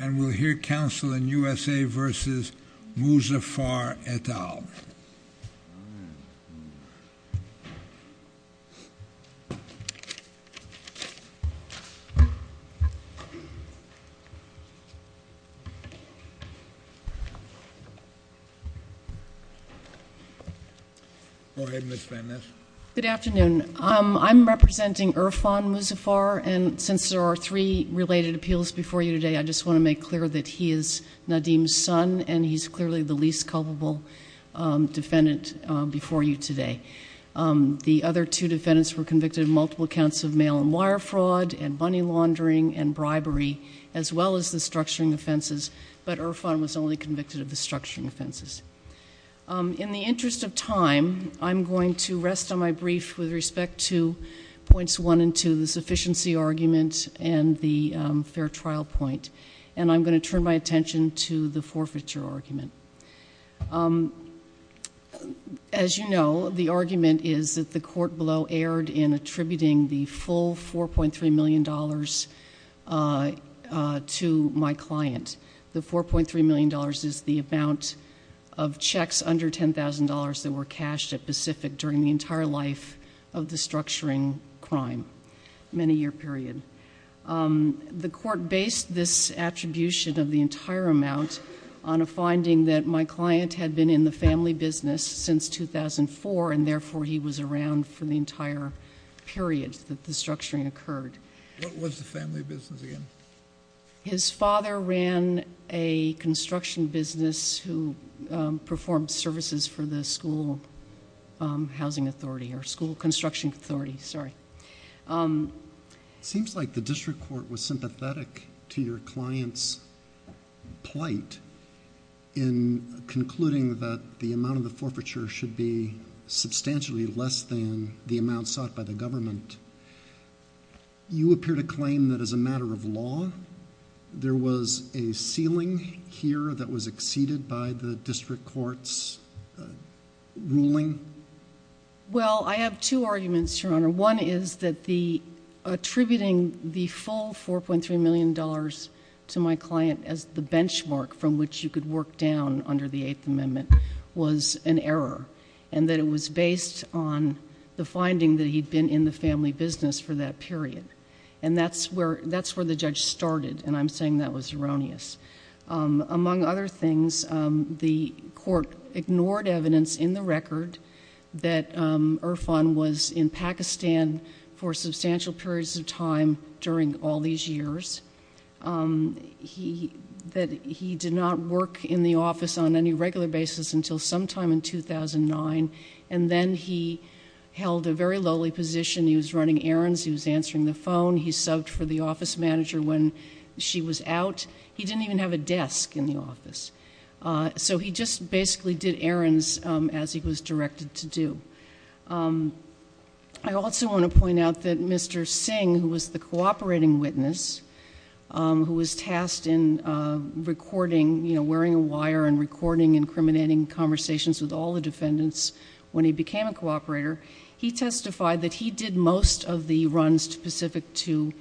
And we'll hear counsel in USA v. Muzaffar et al. Go ahead, Ms. Van Ness. Good afternoon. I'm representing Irfan Muzaffar. And since there are three related appeals before you today, I just want to make clear that he is Nadim's son, and he's clearly the least culpable defendant before you today. The other two defendants were convicted of multiple counts of mail and wire fraud and money laundering and bribery, as well as the structuring offenses, but Irfan was only convicted of the structuring offenses. In the interest of time, I'm going to rest on my brief with respect to points one and two, the sufficiency argument and the fair trial point. And I'm going to turn my attention to the forfeiture argument. As you know, the argument is that the court below erred in attributing the full $4.3 million to my client. The $4.3 million is the amount of checks under $10,000 that were cashed at Pacific during the entire life of the structuring crime, many-year period. The court based this attribution of the entire amount on a finding that my client had been in the family business since 2004, and therefore he was around for the entire period that the structuring occurred. What was the family business again? His father ran a construction business who performed services for the school housing authority or school construction authority, sorry. It seems like the district court was sympathetic to your client's plight in concluding that the amount of the forfeiture should be substantially less than the amount sought by the government. You appear to claim that as a matter of law, there was a ceiling here that was exceeded by the district court's ruling. Well, I have two arguments, Your Honor. One is that attributing the full $4.3 million to my client as the benchmark from which you could work down under the Eighth Amendment was an error, and that it was based on the finding that he'd been in the family business for that period, and that's where the judge started, and I'm saying that was erroneous. Among other things, the court ignored evidence in the record that Irfan was in Pakistan for substantial periods of time during all these years, that he did not work in the office on any regular basis until sometime in 2009, and then he held a very lowly position. He was running errands. He was answering the phone. He subbed for the office manager when she was out. He didn't even have a desk in the office, so he just basically did errands as he was directed to do. I also want to point out that Mr. Singh, who was the cooperating witness, who was tasked in recording, you know, wearing a wire and recording incriminating conversations with all the defendants when he became a cooperator, he testified that he did most of the runs specific to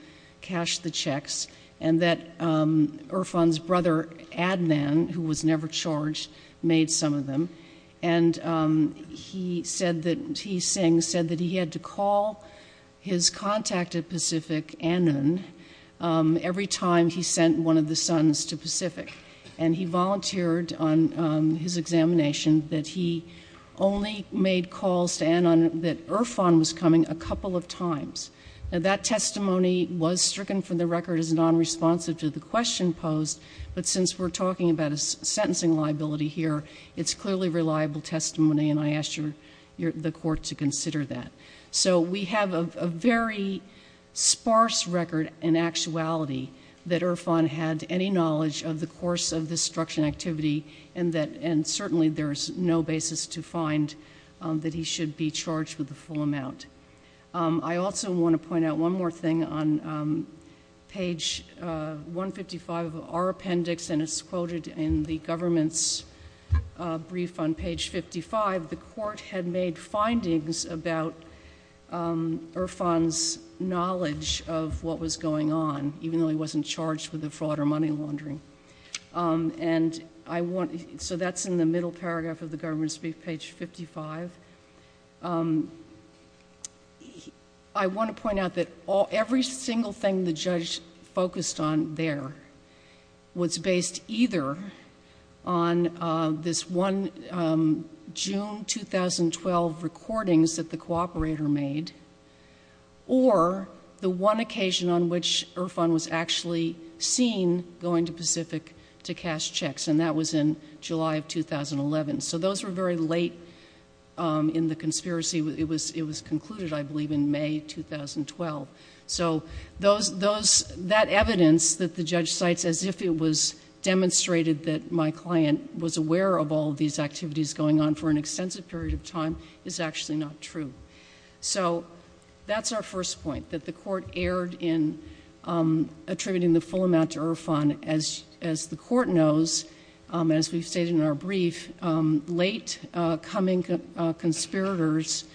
cash the checks, and that Irfan's brother, Adnan, who was never charged, made some of them, and he said that he had to call his contact at Pacific, Adnan, every time he sent one of the sons to Pacific, and he volunteered on his examination that he only made calls to Adnan that Irfan was coming a couple of times. Now, that testimony was stricken from the record as nonresponsive to the question posed, but since we're talking about a sentencing liability here, it's clearly reliable testimony, and I ask the court to consider that. So we have a very sparse record in actuality that Irfan had any knowledge of the course of this destruction activity, and certainly there is no basis to find that he should be charged with the full amount. I also want to point out one more thing on page 155 of our appendix, and it's quoted in the government's brief on page 55. The court had made findings about Irfan's knowledge of what was going on, even though he wasn't charged with the fraud or money laundering, and so that's in the middle paragraph of the government's brief, page 55. I want to point out that every single thing the judge focused on there was based either on this June 2012 recordings that the cooperator made or the one occasion on which Irfan was actually seen going to Pacific to cash checks, and that was in July of 2011. So those were very late in the conspiracy. It was concluded, I believe, in May 2012. So that evidence that the judge cites as if it was demonstrated that my client was aware of all these activities going on for an extensive period of time is actually not true. So that's our first point, that the court erred in attributing the full amount to Irfan. As the court knows, as we've stated in our brief, latecoming conspirators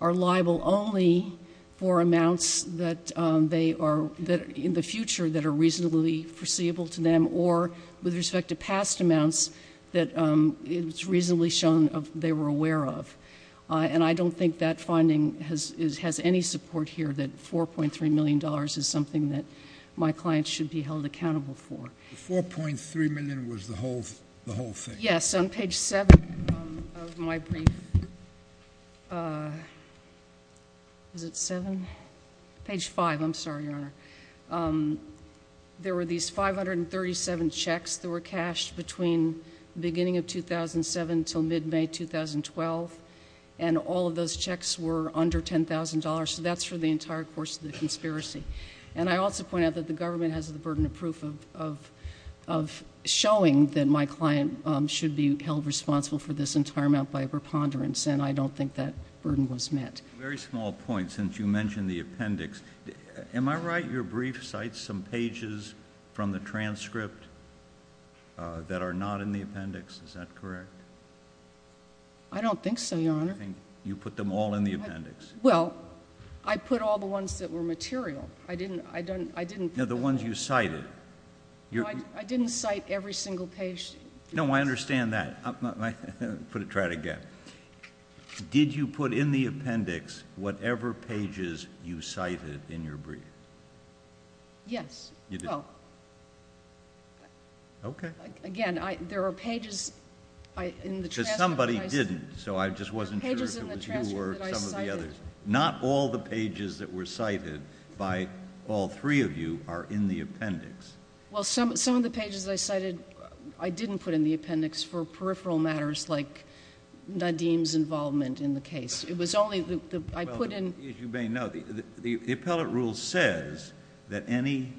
are liable only for amounts that they are in the future that are reasonably foreseeable to them or with respect to past amounts that it's reasonably shown they were aware of. And I don't think that finding has any support here that $4.3 million is something that my client should be held accountable for. The $4.3 million was the whole thing? Yes, on page 7 of my brief. Is it 7? Page 5, I'm sorry, Your Honor. There were these 537 checks that were cashed between the beginning of 2007 until mid-May 2012, and all of those checks were under $10,000, so that's for the entire course of the conspiracy. And I also point out that the government has the burden of proof of showing that my client should be held responsible for this entire amount by a preponderance, and I don't think that burden was met. Just a very small point, since you mentioned the appendix. Am I right your brief cites some pages from the transcript that are not in the appendix? Is that correct? I don't think so, Your Honor. You put them all in the appendix. Well, I put all the ones that were material. I didn't put them all. No, the ones you cited. I didn't cite every single page. No, I understand that. I'm going to try it again. Did you put in the appendix whatever pages you cited in your brief? Yes. You did. Okay. Again, there are pages in the transcript that I cited. Because somebody didn't, so I just wasn't sure if it was you or some of the others. Not all the pages that were cited by all three of you are in the appendix. Well, some of the pages I cited I didn't put in the appendix for peripheral matters like Nadim's involvement in the case. It was only the one I put in. As you may know, the appellate rule says that any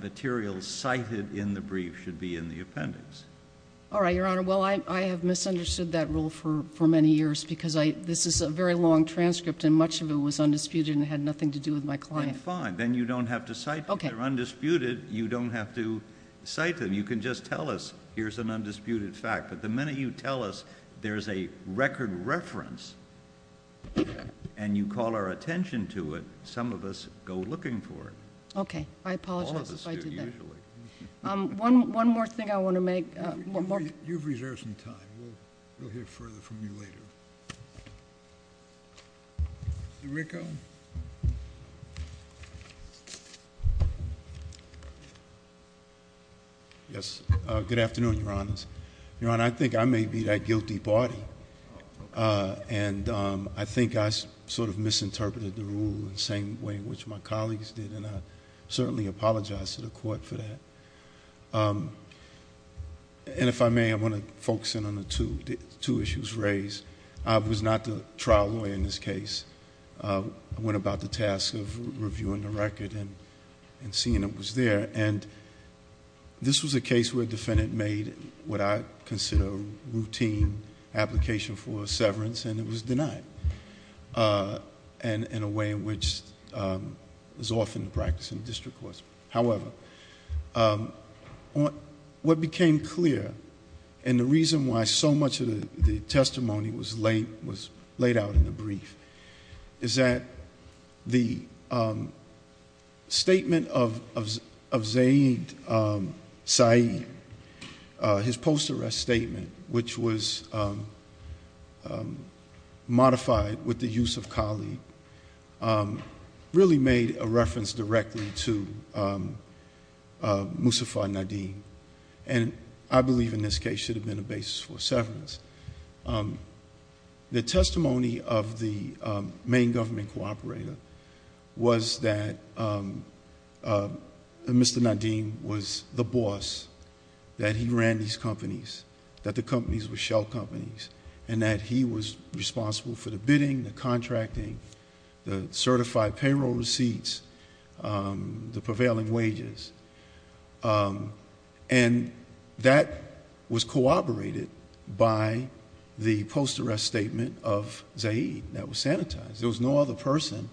material cited in the brief should be in the appendix. All right, Your Honor. Well, I have misunderstood that rule for many years because this is a very long transcript, and much of it was undisputed and had nothing to do with my client. Then fine. Then you don't have to cite it. If they're undisputed, you don't have to cite them. You can just tell us here's an undisputed fact. But the minute you tell us there's a record reference and you call our attention to it, some of us go looking for it. Okay. I apologize if I did that. All of us do, usually. One more thing I want to make. You've reserved some time. We'll hear further from you later. Mr. Ricco? Yes. Good afternoon, Your Honors. Your Honor, I think I may be that guilty party, and I think I sort of misinterpreted the rule the same way which my colleagues did, and I certainly apologize to the Court for that. If I may, I want to focus in on the two issues raised. I was not the trial lawyer in this case. I went about the task of reviewing the record and seeing it was there. This was a case where a defendant made what I consider a routine application for severance, and it was denied in a way which is often the practice in district courts. However, what became clear, and the reason why so much of the testimony was laid out in the brief, is that the statement of Zaid Saeed, his post-arrest statement, which was modified with the use of colleague, really made a reference directly to Muzaffar Nadim, and I believe in this case should have been a basis for severance. The testimony of the main government cooperator was that Mr. Nadim was the boss, that he ran these companies, that the companies were shell companies, and that he was responsible for the bidding, the contracting, the certified payroll receipts, the prevailing wages, and that was corroborated by the post-arrest statement of Zaid that was sanitized. There was no other person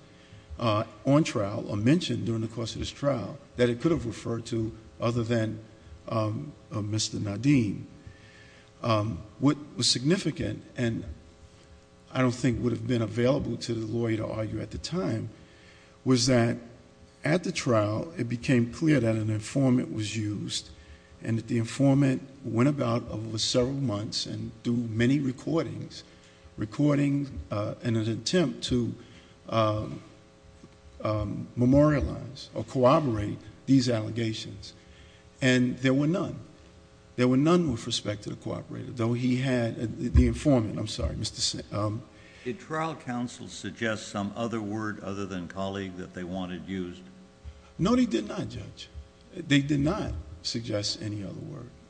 on trial or mentioned during the course of this trial that it could have referred to other than Mr. Nadim. What was significant, and I don't think would have been available to the lawyer to argue at the time, was that at the trial, it became clear that an informant was used, and that the informant went about over several months and do many recordings, and an attempt to memorialize or corroborate these allegations, and there were none. There were none with respect to the informant. Did trial counsel suggest some other word other than colleague that they wanted used? No, they did not, Judge. They did not suggest any other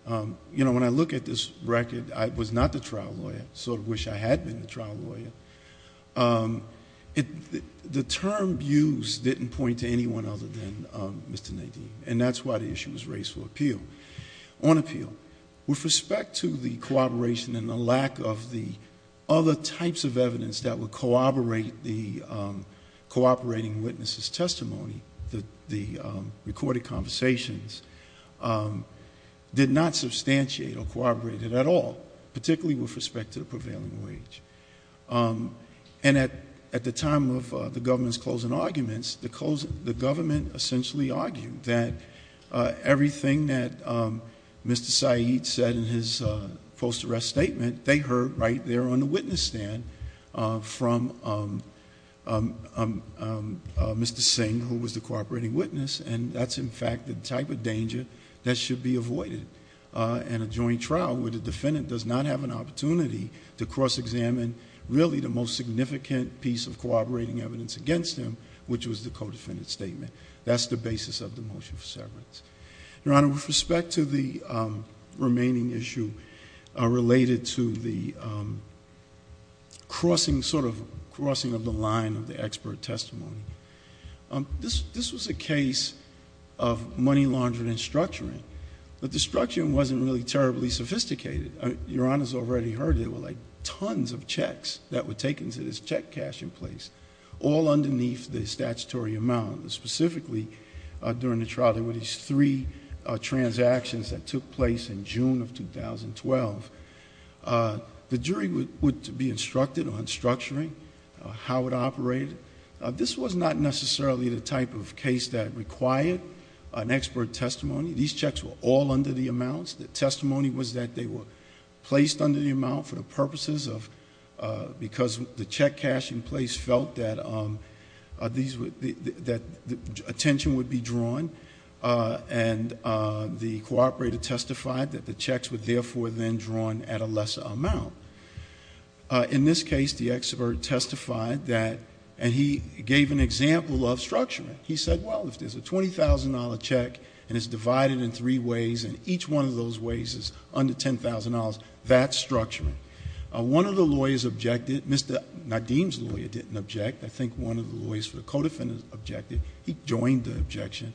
word. When I look at this record, I was not the trial lawyer, so I wish I had been the trial lawyer. The term used didn't point to anyone other than Mr. Nadim, and that's why the issue was raised for appeal. On appeal, with respect to the cooperation and the lack of the other types of evidence that would corroborate the cooperating witnesses' testimony, the recorded conversations, did not substantiate or corroborate it at all, particularly with respect to the prevailing wage. At the time of the government's closing arguments, the government essentially argued that everything that Mr. F's statement, they heard right there on the witness stand from Mr. Singh, who was the cooperating witness, and that's in fact the type of danger that should be avoided in a joint trial where the defendant does not have an opportunity to cross-examine really the most significant piece of cooperating evidence against him, which was the co-defendant's statement. Your Honor, with respect to the remaining issue related to the crossing of the line of the expert testimony, this was a case of money laundering and structuring, but the structuring wasn't really terribly sophisticated. Your Honor's already heard it. There were tons of checks that were taken to this check cashing place, all underneath the statutory amount. Specifically, during the trial, there were these three transactions that took place in June of 2012. The jury would be instructed on structuring, how it operated. This was not necessarily the type of case that required an expert testimony. These checks were all under the amounts. The testimony was that they were placed under the amount for the purposes of... that attention would be drawn, and the cooperator testified that the checks were therefore then drawn at a lesser amount. In this case, the expert testified that... and he gave an example of structuring. He said, well, if there's a $20,000 check and it's divided in three ways, and each one of those ways is under $10,000, that's structuring. One of the lawyers objected. Mr. Nadim's lawyer didn't object. I think one of the lawyers for the co-defendant objected. He joined the objection.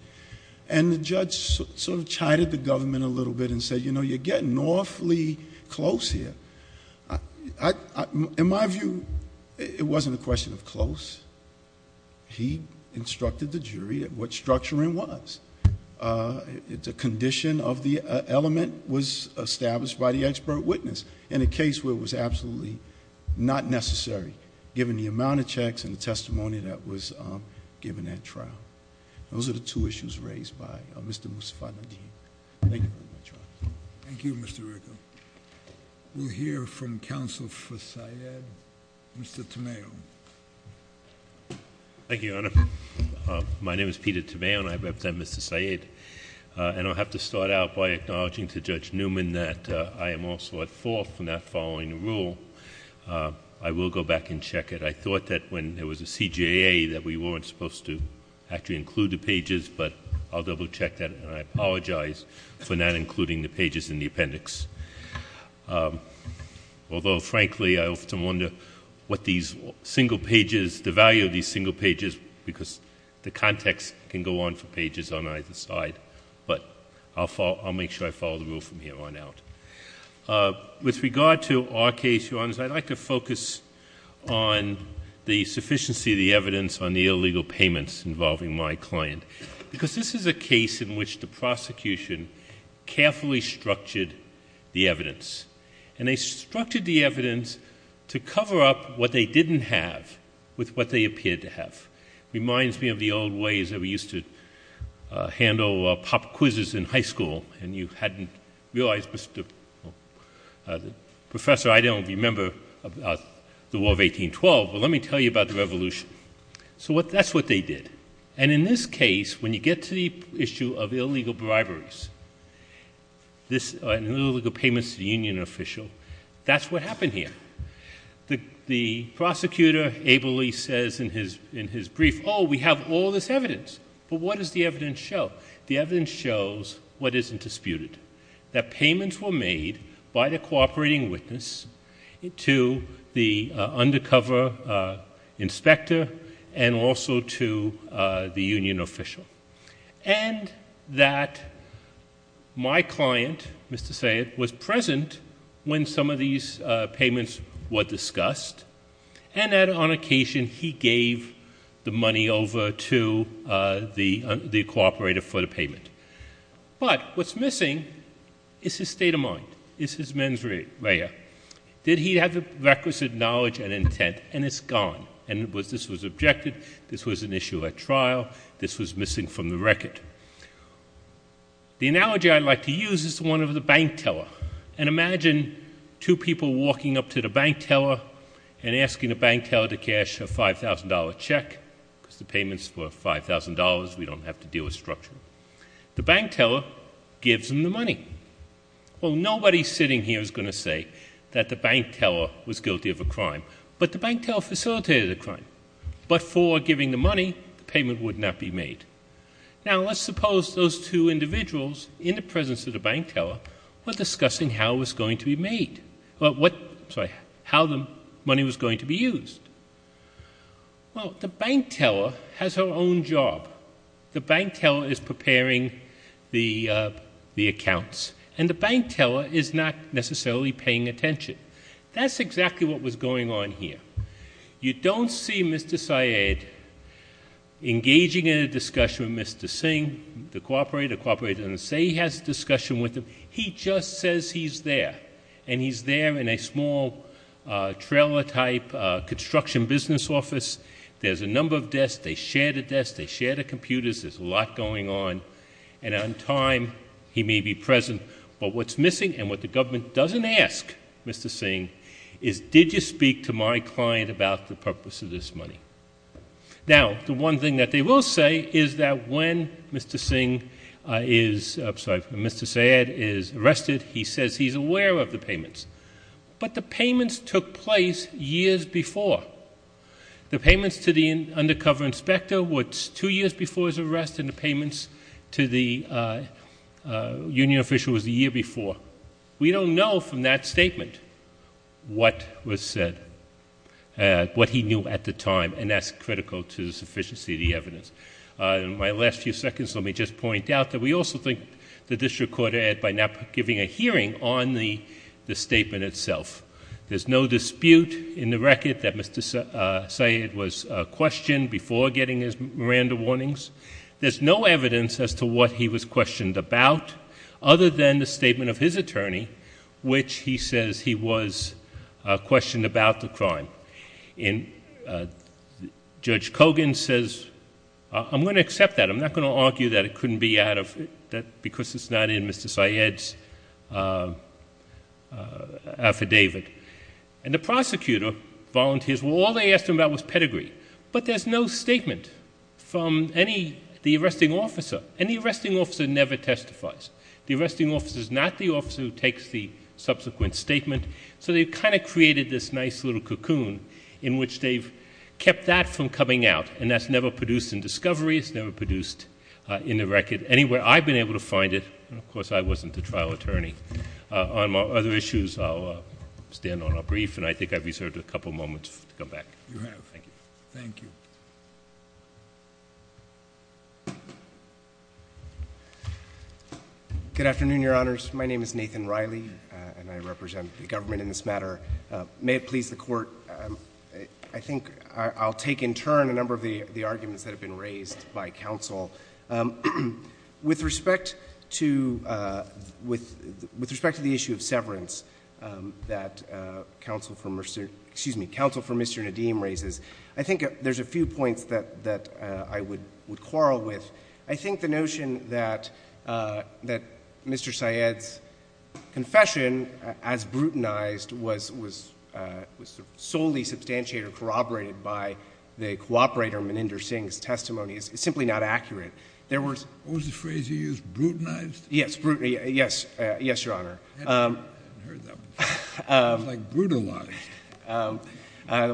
The judge chided the government a little bit and said, you know, you're getting awfully close here. In my view, it wasn't a question of close. He instructed the jury at what structuring was. The condition of the element was established by the expert witness in a case where it was absolutely not necessary. Given the amount of checks and the testimony that was given at trial. Those are the two issues raised by Mr. Musafat Nadim. Thank you. Thank you, Mr. Rucco. We'll hear from counsel for Syed. Mr. Tameo. Thank you, Your Honor. My name is Peter Tameo, and I represent Mr. Syed. And I'll have to start out by acknowledging to Judge Newman that I am also at fault for not following the rule. I will go back and check it. I thought that when there was a CJA that we weren't supposed to actually include the pages. But I'll double check that, and I apologize for not including the pages in the appendix. Although, frankly, I often wonder what these single pages, the value of these single pages, because the context can go on for pages on either side. But I'll make sure I follow the rule from here on out. With regard to our case, Your Honors, I'd like to focus on the sufficiency of the evidence on the illegal payments involving my client. Because this is a case in which the prosecution carefully structured the evidence. And they structured the evidence to cover up what they didn't have with what they appeared to have. Reminds me of the old ways that we used to handle pop quizzes in high school. And you hadn't realized, Professor, I don't remember the War of 1812, but let me tell you about the Revolution. So that's what they did. And in this case, when you get to the issue of illegal briberies and illegal payments to the union official, that's what happened here. The prosecutor ably says in his brief, oh, we have all this evidence. But what does the evidence show? The evidence shows what isn't disputed, that payments were made by the cooperating witness to the undercover inspector and also to the union official. And that my client, Mr. Sayed, was present when some of these payments were discussed. And that on occasion he gave the money over to the cooperator for the payment. But what's missing is his state of mind, is his mens rea. Did he have the requisite knowledge and intent? And it's gone. And this was objected. This was an issue at trial. This was missing from the record. The analogy I like to use is one of the bank teller. And imagine two people walking up to the bank teller and asking the bank teller to cash a $5,000 check because the payments were $5,000. We don't have to deal with structure. The bank teller gives them the money. Well, nobody sitting here is going to say that the bank teller was guilty of a crime. But the bank teller facilitated the crime. But for giving the money, the payment would not be made. Now, let's suppose those two individuals in the presence of the bank teller were discussing how it was going to be made. Sorry, how the money was going to be used. Well, the bank teller has her own job. The bank teller is preparing the accounts. And the bank teller is not necessarily paying attention. That's exactly what was going on here. You don't see Mr. Syed engaging in a discussion with Mr. Singh, the cooperator. The cooperator doesn't say he has a discussion with him. He just says he's there. And he's there in a small trailer-type construction business office. There's a number of desks. They share the desks. They share the computers. There's a lot going on. And on time, he may be present. But what's missing and what the government doesn't ask Mr. Singh is, did you speak to my client about the purpose of this money? Now, the one thing that they will say is that when Mr. Singh is, I'm sorry, when Mr. Syed is arrested, he says he's aware of the payments. But the payments took place years before. The payments to the undercover inspector were two years before his arrest, and the payments to the union official was the year before. We don't know from that statement what was said, what he knew at the time. And that's critical to the sufficiency of the evidence. In my last few seconds, let me just point out that we also think the district court, by not giving a hearing on the statement itself, there's no dispute in the record that Mr. Syed was questioned before getting his Miranda warnings. There's no evidence as to what he was questioned about other than the statement of his attorney, which he says he was questioned about the crime. And Judge Kogan says, I'm going to accept that. I'm not going to argue that it couldn't be out of, because it's not in Mr. Syed's affidavit. And the prosecutor volunteers, well, all they asked him about was pedigree. But there's no statement from any, the arresting officer. Any arresting officer never testifies. The arresting officer is not the officer who takes the subsequent statement. So they've kind of created this nice little cocoon in which they've kept that from coming out. And that's never produced in discovery. It's never produced in the record anywhere. I've been able to find it. Of course, I wasn't the trial attorney. On other issues, I'll stand on our brief, and I think I've reserved a couple moments to come back. You have. Thank you. Thank you. Good afternoon, Your Honors. My name is Nathan Riley, and I represent the government in this matter. May it please the Court, I think I'll take in turn a number of the arguments that have been raised by counsel. With respect to the issue of severance that counsel for Mr. Nadeem raises, I think there's a few points that I would quarrel with. I think the notion that Mr. Syed's confession as brutalized was solely substantiated or corroborated by the cooperator Meninder Singh's testimony is simply not accurate. What was the phrase you used? Brutalized? Yes. Yes, Your Honor. I hadn't heard that one. It was like brutalized.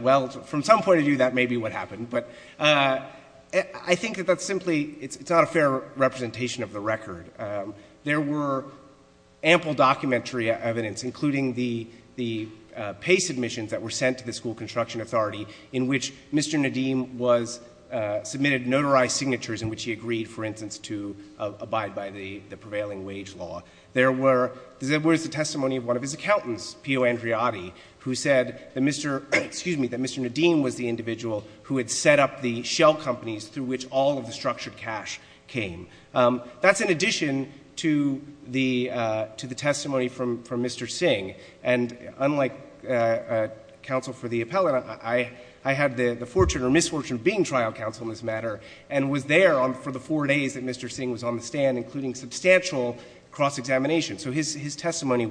Well, from some point of view, that may be what happened. But I think that that's simply, it's not a fair representation of the record. There were ample documentary evidence, including the PACE admissions that were sent to the School Construction Authority, in which Mr. Nadeem submitted notarized signatures in which he agreed, for instance, to abide by the prevailing wage law. There was the testimony of one of his accountants, Pio Andreotti, who said that Mr. Nadeem was the individual who had set up the shell companies through which all of the structured cash came. That's in addition to the testimony from Mr. Singh. And unlike counsel for the appellant, I had the fortune or misfortune of being trial counsel in this matter and was there for the four days that Mr. Singh was on the stand, including substantial cross-examination. So his testimony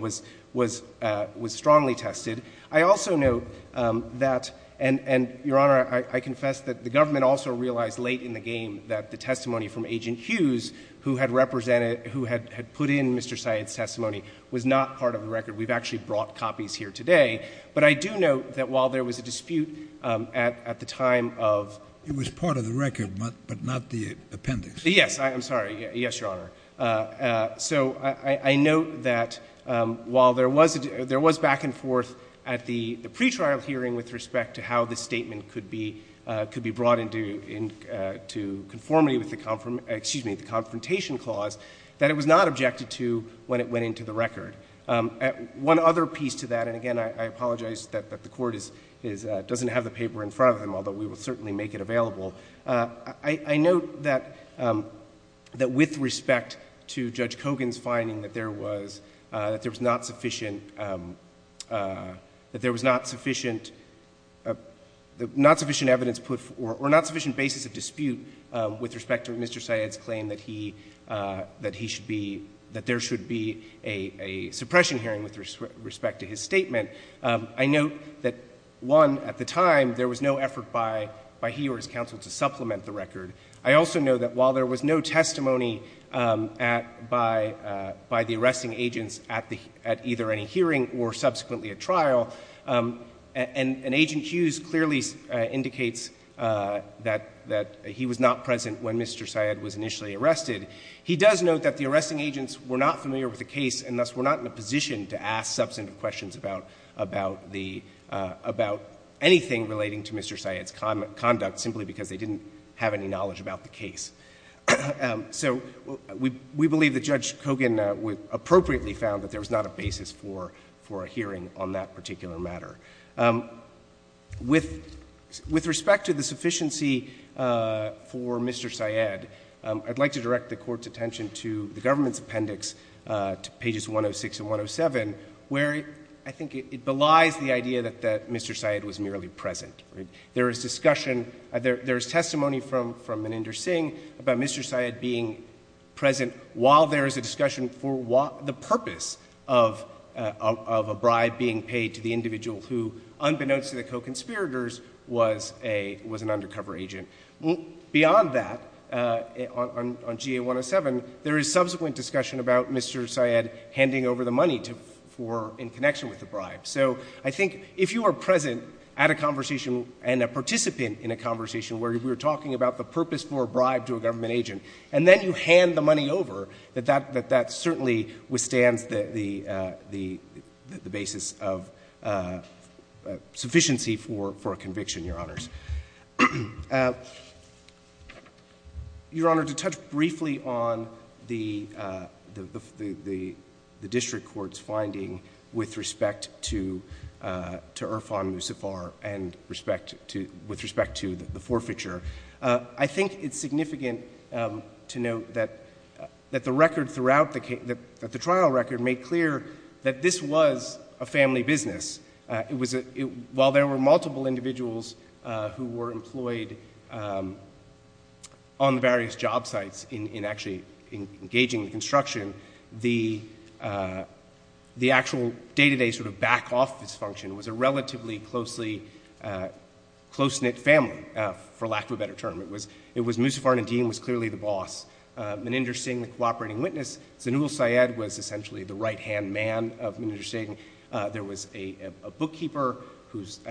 was strongly tested. I also note that, and Your Honor, I confess that the government also realized late in the game that the testimony from Agent Hughes, who had represented, who had put in Mr. Syed's testimony, was not part of the record. We've actually brought copies here today. But I do note that while there was a dispute at the time of— It was part of the record, but not the appendix. Yes, I'm sorry. Yes, Your Honor. So I note that while there was back and forth at the pretrial hearing with respect to how this statement could be brought into conformity with the confrontation clause, that it was not objected to when it went into the record. One other piece to that, and again, I apologize that the Court doesn't have the paper in front of him, although we will certainly make it available. I note that with respect to Judge Kogan's finding that there was not sufficient evidence put— or not sufficient basis of dispute with respect to Mr. Syed's claim that he should be— that there should be a suppression hearing with respect to his statement. I note that, one, at the time there was no effort by he or his counsel to supplement the record. I also know that while there was no testimony by the arresting agents at either any hearing or subsequently at trial, and Agent Hughes clearly indicates that he was not present when Mr. Syed was initially arrested, he does note that the arresting agents were not familiar with the case and thus were not in a position to ask substantive questions about the—about anything relating to Mr. Syed's conduct simply because they didn't have any knowledge about the case. So we believe that Judge Kogan appropriately found that there was not a basis for a hearing on that particular matter. With respect to the sufficiency for Mr. Syed, I'd like to direct the Court's attention to the government's appendix to pages 106 and 107, where I think it belies the idea that Mr. Syed was merely present. There is discussion—there is testimony from Meninder Singh about Mr. Syed being present while there is a discussion for the purpose of a bribe being paid to the individual who, unbeknownst to the co-conspirators, was an undercover agent. Beyond that, on GA107, there is subsequent discussion about Mr. Syed handing over the money in connection with the bribe. So I think if you are present at a conversation and a participant in a conversation where we are talking about the purpose for a bribe to a government agent, and then you hand the money over, that that certainly withstands the basis of sufficiency for a conviction, Your Honors. Your Honor, to touch briefly on the district court's finding with respect to Irfan Musafar and with respect to the forfeiture, I think it's significant to note that the trial record made clear that this was a family business. While there were multiple individuals who were employed on the various job sites in actually engaging in construction, the actual day-to-day sort of back-office function was a relatively closely—close-knit family, for lack of a better term. It was—Musafar Nadim was clearly the boss. Meninder Singh, the cooperating witness. Zanul Syed was essentially the right-hand man of Meninder Singh. There was a bookkeeper whose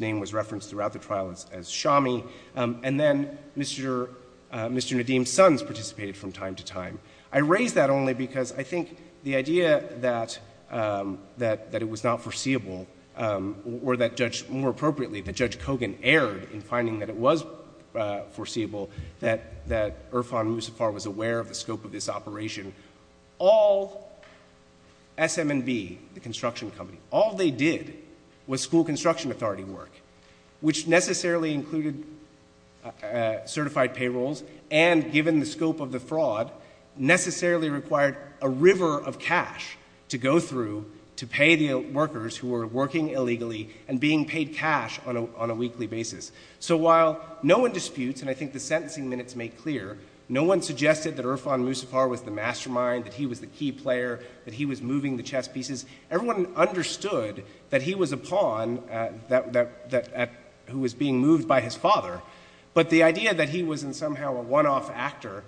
name was referenced throughout the trial as Shami. And then Mr. Nadim's sons participated from time to time. I raise that only because I think the idea that it was not foreseeable or that Judge—more appropriately, that Judge Kogan erred in finding that it was foreseeable that Irfan Musafar was aware of the scope of this operation. All—SM&B, the construction company—all they did was school construction authority work, which necessarily included certified payrolls and, given the scope of the fraud, necessarily required a river of cash to go through to pay the workers who were working illegally and being paid cash on a weekly basis. So while no one disputes, and I think the sentencing minutes make clear, no one suggested that Irfan Musafar was the mastermind, that he was the key player, that he was moving the chess pieces. Everyone understood that he was a pawn that—who was being moved by his father. But the idea that he was somehow a one-off actor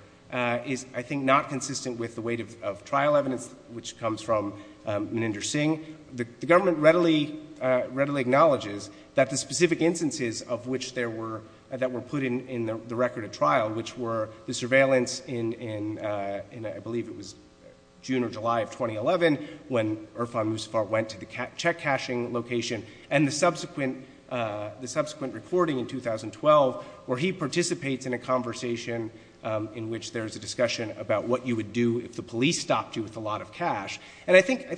is, I think, not consistent with the weight of trial evidence, which comes from Meninder Singh. The government readily acknowledges that the specific instances of which there were—that were put in the record of trial, which were the surveillance in, I believe it was June or July of 2011, when Irfan Musafar went to the check-cashing location and the subsequent recording in 2012, where he participates in a conversation in which there is a discussion about what you would do if the police stopped you with a lot of cash. And I think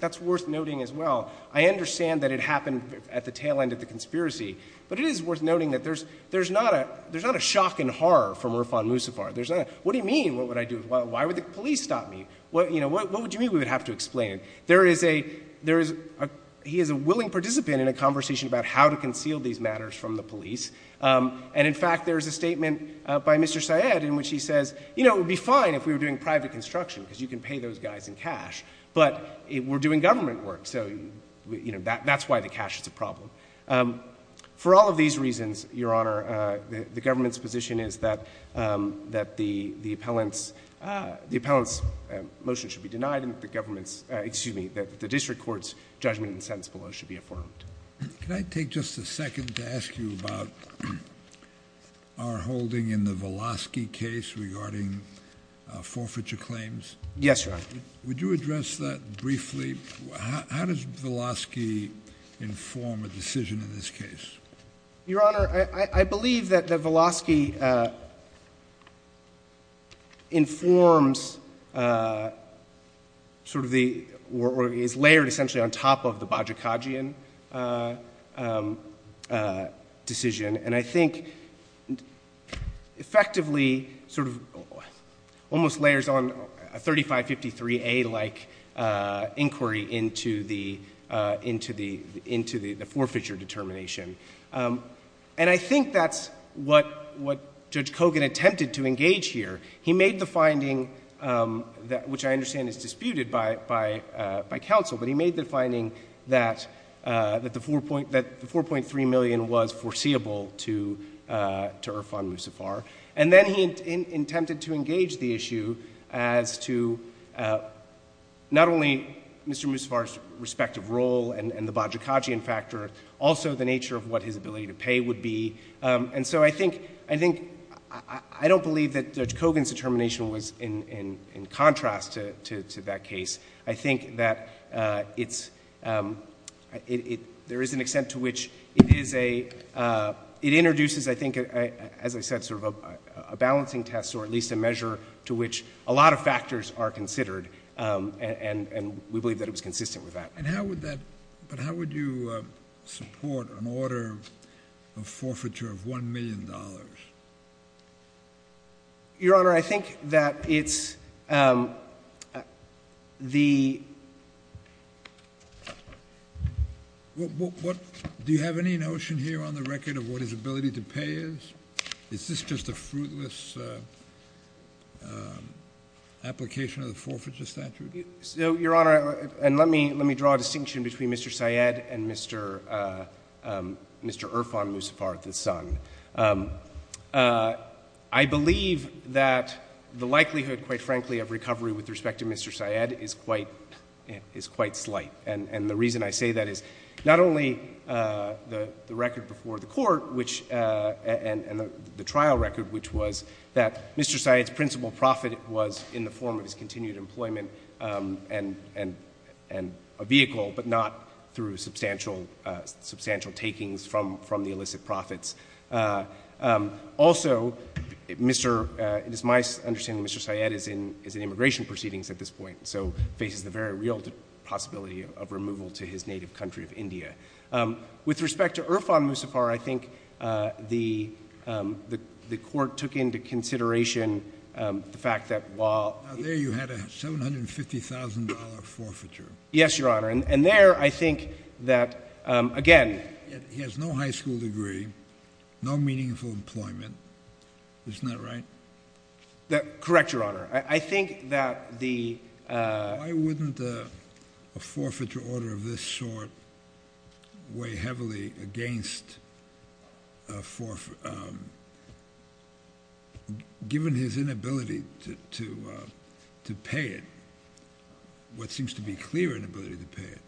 that's worth noting as well. I understand that it happened at the tail end of the conspiracy, but it is worth noting that there's not a shock and horror from Irfan Musafar. There's not a, what do you mean? What would I do? Why would the police stop me? What would you mean? We would have to explain it. There is a—he is a willing participant in a conversation about how to conceal these matters from the police. And in fact, there is a statement by Mr. Syed in which he says, you know, it would be fine if we were doing private construction because you can pay those guys in cash, but we're doing government work, so, you know, that's why the cash is a problem. For all of these reasons, Your Honor, the government's position is that the appellant's motion should be denied and that the government's—excuse me, that the district court's judgment and sentence below should be affirmed. Can I take just a second to ask you about our holding in the Velosky case regarding forfeiture claims? Yes, Your Honor. Would you address that briefly? How does Velosky inform a decision in this case? Your Honor, I believe that Velosky informs sort of the—or is layered essentially on top of the Bajikadzian decision. And I think effectively sort of almost layers on a 3553A-like inquiry into the forfeiture determination. And I think that's what Judge Kogan attempted to engage here. He made the finding, which I understand is disputed by counsel, but he made the finding that the $4.3 million was foreseeable to Irfan Musafar. And then he attempted to engage the issue as to not only Mr. Musafar's respective role and the Bajikadzian factor, but also the nature of what his ability to pay would be. And so I think—I don't believe that Judge Kogan's determination was in contrast to that case. I think that it's—there is an extent to which it is a—it introduces, I think, as I said, sort of a balancing test or at least a measure to which a lot of factors are considered. And we believe that it was consistent with that. And how would that—but how would you support an order of forfeiture of $1 million? Your Honor, I think that it's the— Do you have any notion here on the record of what his ability to pay is? Is this just a fruitless application of the forfeiture statute? So, Your Honor, and let me draw a distinction between Mr. Syed and Mr. Irfan Musafar, the son. I believe that the likelihood, quite frankly, of recovery with respect to Mr. Syed is quite slight. And the reason I say that is not only the record before the Court, which—and the trial record, which was that Mr. Syed's principal profit was in the form of his continued employment and a vehicle, but not through substantial takings from the illicit profits. Also, Mr.—it is my understanding Mr. Syed is in immigration proceedings at this point, so faces the very real possibility of removal to his native country of India. With respect to Irfan Musafar, I think the Court took into consideration the fact that while— Now, there you had a $750,000 forfeiture. Yes, Your Honor. And there I think that, again— He has no high school degree, no meaningful employment. Isn't that right? Correct, Your Honor. I think that the— Why wouldn't a forfeiture order of this sort weigh heavily against a for— given his inability to pay it, what seems to be a clear inability to pay it,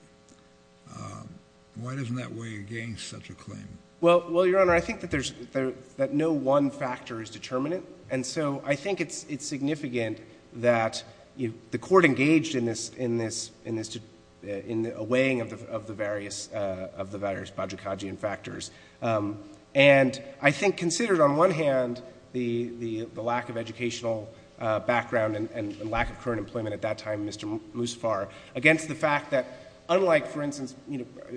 why doesn't that weigh against such a claim? Well, Your Honor, I think that there's—that no one factor is determinate, and so I think it's significant that the Court engaged in this—in the weighing of the various Bajor-Qajian factors. And I think considered on one hand the lack of educational background and lack of current employment at that time, Mr. Musafar, against the fact that unlike, for instance,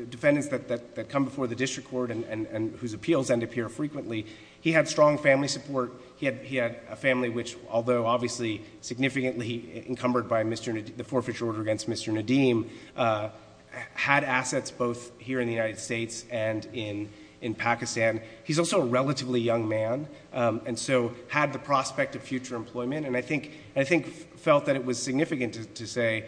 defendants that come before the district court and whose appeals end up here frequently, he had strong family support. He had a family which, although obviously significantly encumbered by the forfeiture order against Mr. Nadeem, had assets both here in the United States and in Pakistan. He's also a relatively young man, and so had the prospect of future employment, and I think felt that it was significant to say,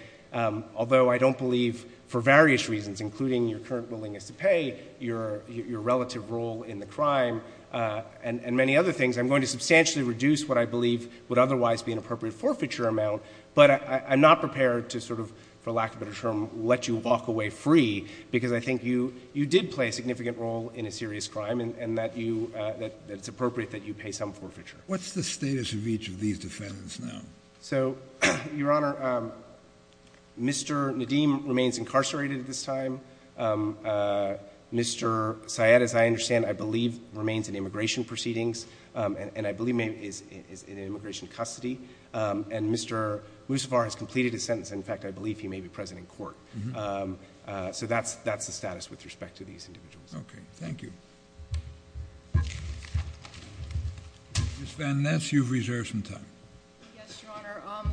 although I don't believe for various reasons, including your current willingness to pay, your relative role in the crime, and many other things, I'm going to substantially reduce what I believe would otherwise be an appropriate forfeiture amount, but I'm not prepared to sort of, for lack of a better term, let you walk away free, because I think you did play a significant role in a serious crime, and that you—that it's appropriate that you pay some forfeiture. What's the status of each of these defendants now? So, Your Honor, Mr. Nadeem remains incarcerated at this time. Mr. Syed, as I understand, I believe remains in immigration proceedings, and I believe is in immigration custody, and Mr. Moussavar has completed his sentence, and in fact I believe he may be present in court. So that's the status with respect to these individuals. Okay. Thank you. Ms. Van Ness, you've reserved some time. Yes, Your Honor.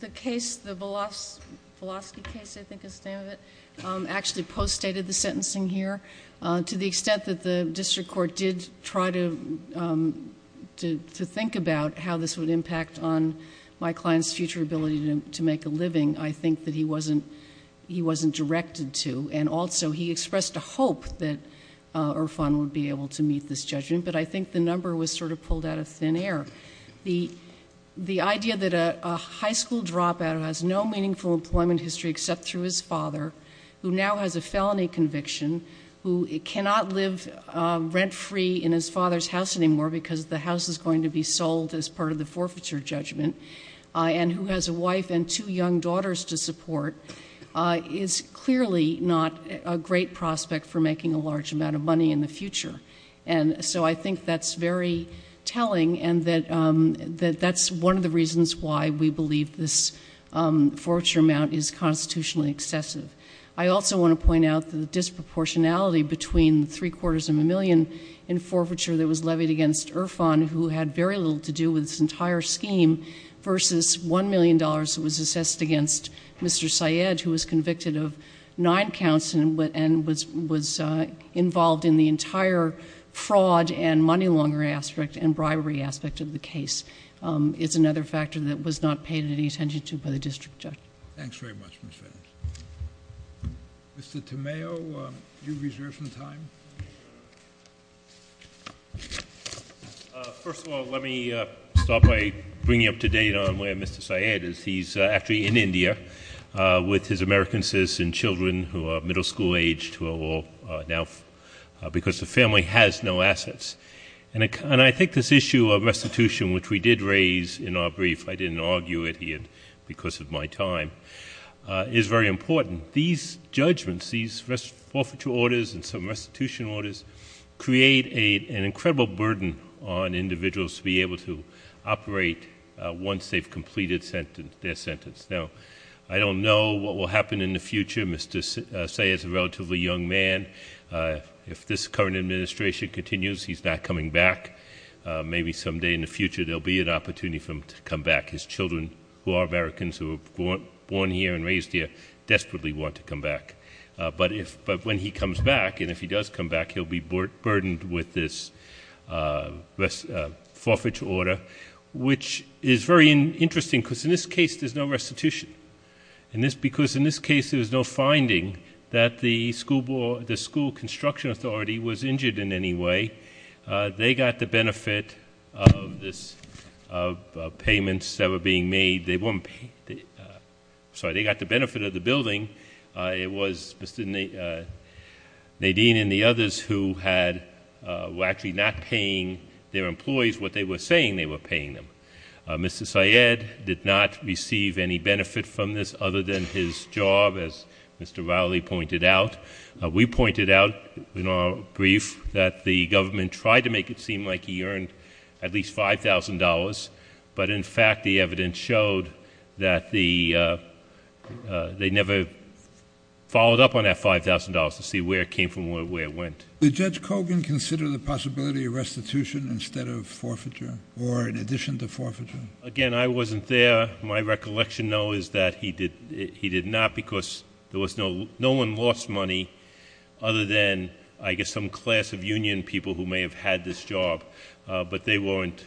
The case, the Velosky case, I think is the name of it, actually post-stated the sentencing here. To the extent that the district court did try to think about how this would impact on my client's future ability to make a living, I think that he wasn't directed to, and also he expressed a hope that Irfan would be able to meet this judgment, but I think the number was sort of pulled out of thin air. The idea that a high school dropout who has no meaningful employment history except through his father, who now has a felony conviction, who cannot live rent-free in his father's house anymore because the house is going to be sold as part of the forfeiture judgment, and who has a wife and two young daughters to support, is clearly not a great prospect for making a large amount of money in the future. And so I think that's very telling, and that that's one of the reasons why we believe this forfeiture amount is constitutionally excessive. I also want to point out the disproportionality between three-quarters of a million in forfeiture that was levied against Irfan, who had very little to do with this entire scheme, versus $1 million that was assessed against Mr. Syed, who was convicted of nine counts and was involved in the entire fraud and money laundering aspect and bribery aspect of the case. It's another factor that was not paid any attention to by the district judge. Thanks very much, Ms. Fenton. Mr. Tomeo, you reserve some time. First of all, let me start by bringing up to date on where Mr. Syed is. He's actually in India with his American citizen children who are middle school age, who are all now because the family has no assets. And I think this issue of restitution, which we did raise in our brief, I didn't argue it here because of my time, is very important. These judgments, these forfeiture orders and some restitution orders, create an incredible burden on individuals to be able to operate once they've completed their sentence. Now, I don't know what will happen in the future. Mr. Syed is a relatively young man. If this current administration continues, he's not coming back. Maybe someday in the future there will be an opportunity for him to come back. His children, who are Americans, who were born here and raised here, desperately want to come back. But when he comes back, and if he does come back, he'll be burdened with this forfeiture order, which is very interesting because in this case there's no restitution. Because in this case there's no finding that the school construction authority was injured in any way. They got the benefit of payments that were being made. Sorry, they got the benefit of the building. It was Mr. Nadine and the others who were actually not paying their employees what they were saying they were paying them. Mr. Syed did not receive any benefit from this other than his job, as Mr. Rowley pointed out. We pointed out in our brief that the government tried to make it seem like he earned at least $5,000. But in fact, the evidence showed that they never followed up on that $5,000 to see where it came from and where it went. Did Judge Kogan consider the possibility of restitution instead of forfeiture or in addition to forfeiture? Again, I wasn't there. My recollection, though, is that he did not because no one lost money other than, I guess, some class of union people who may have had this job, but they weren't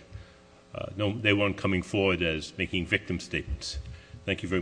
coming forward as making victim statements. Thank you very much.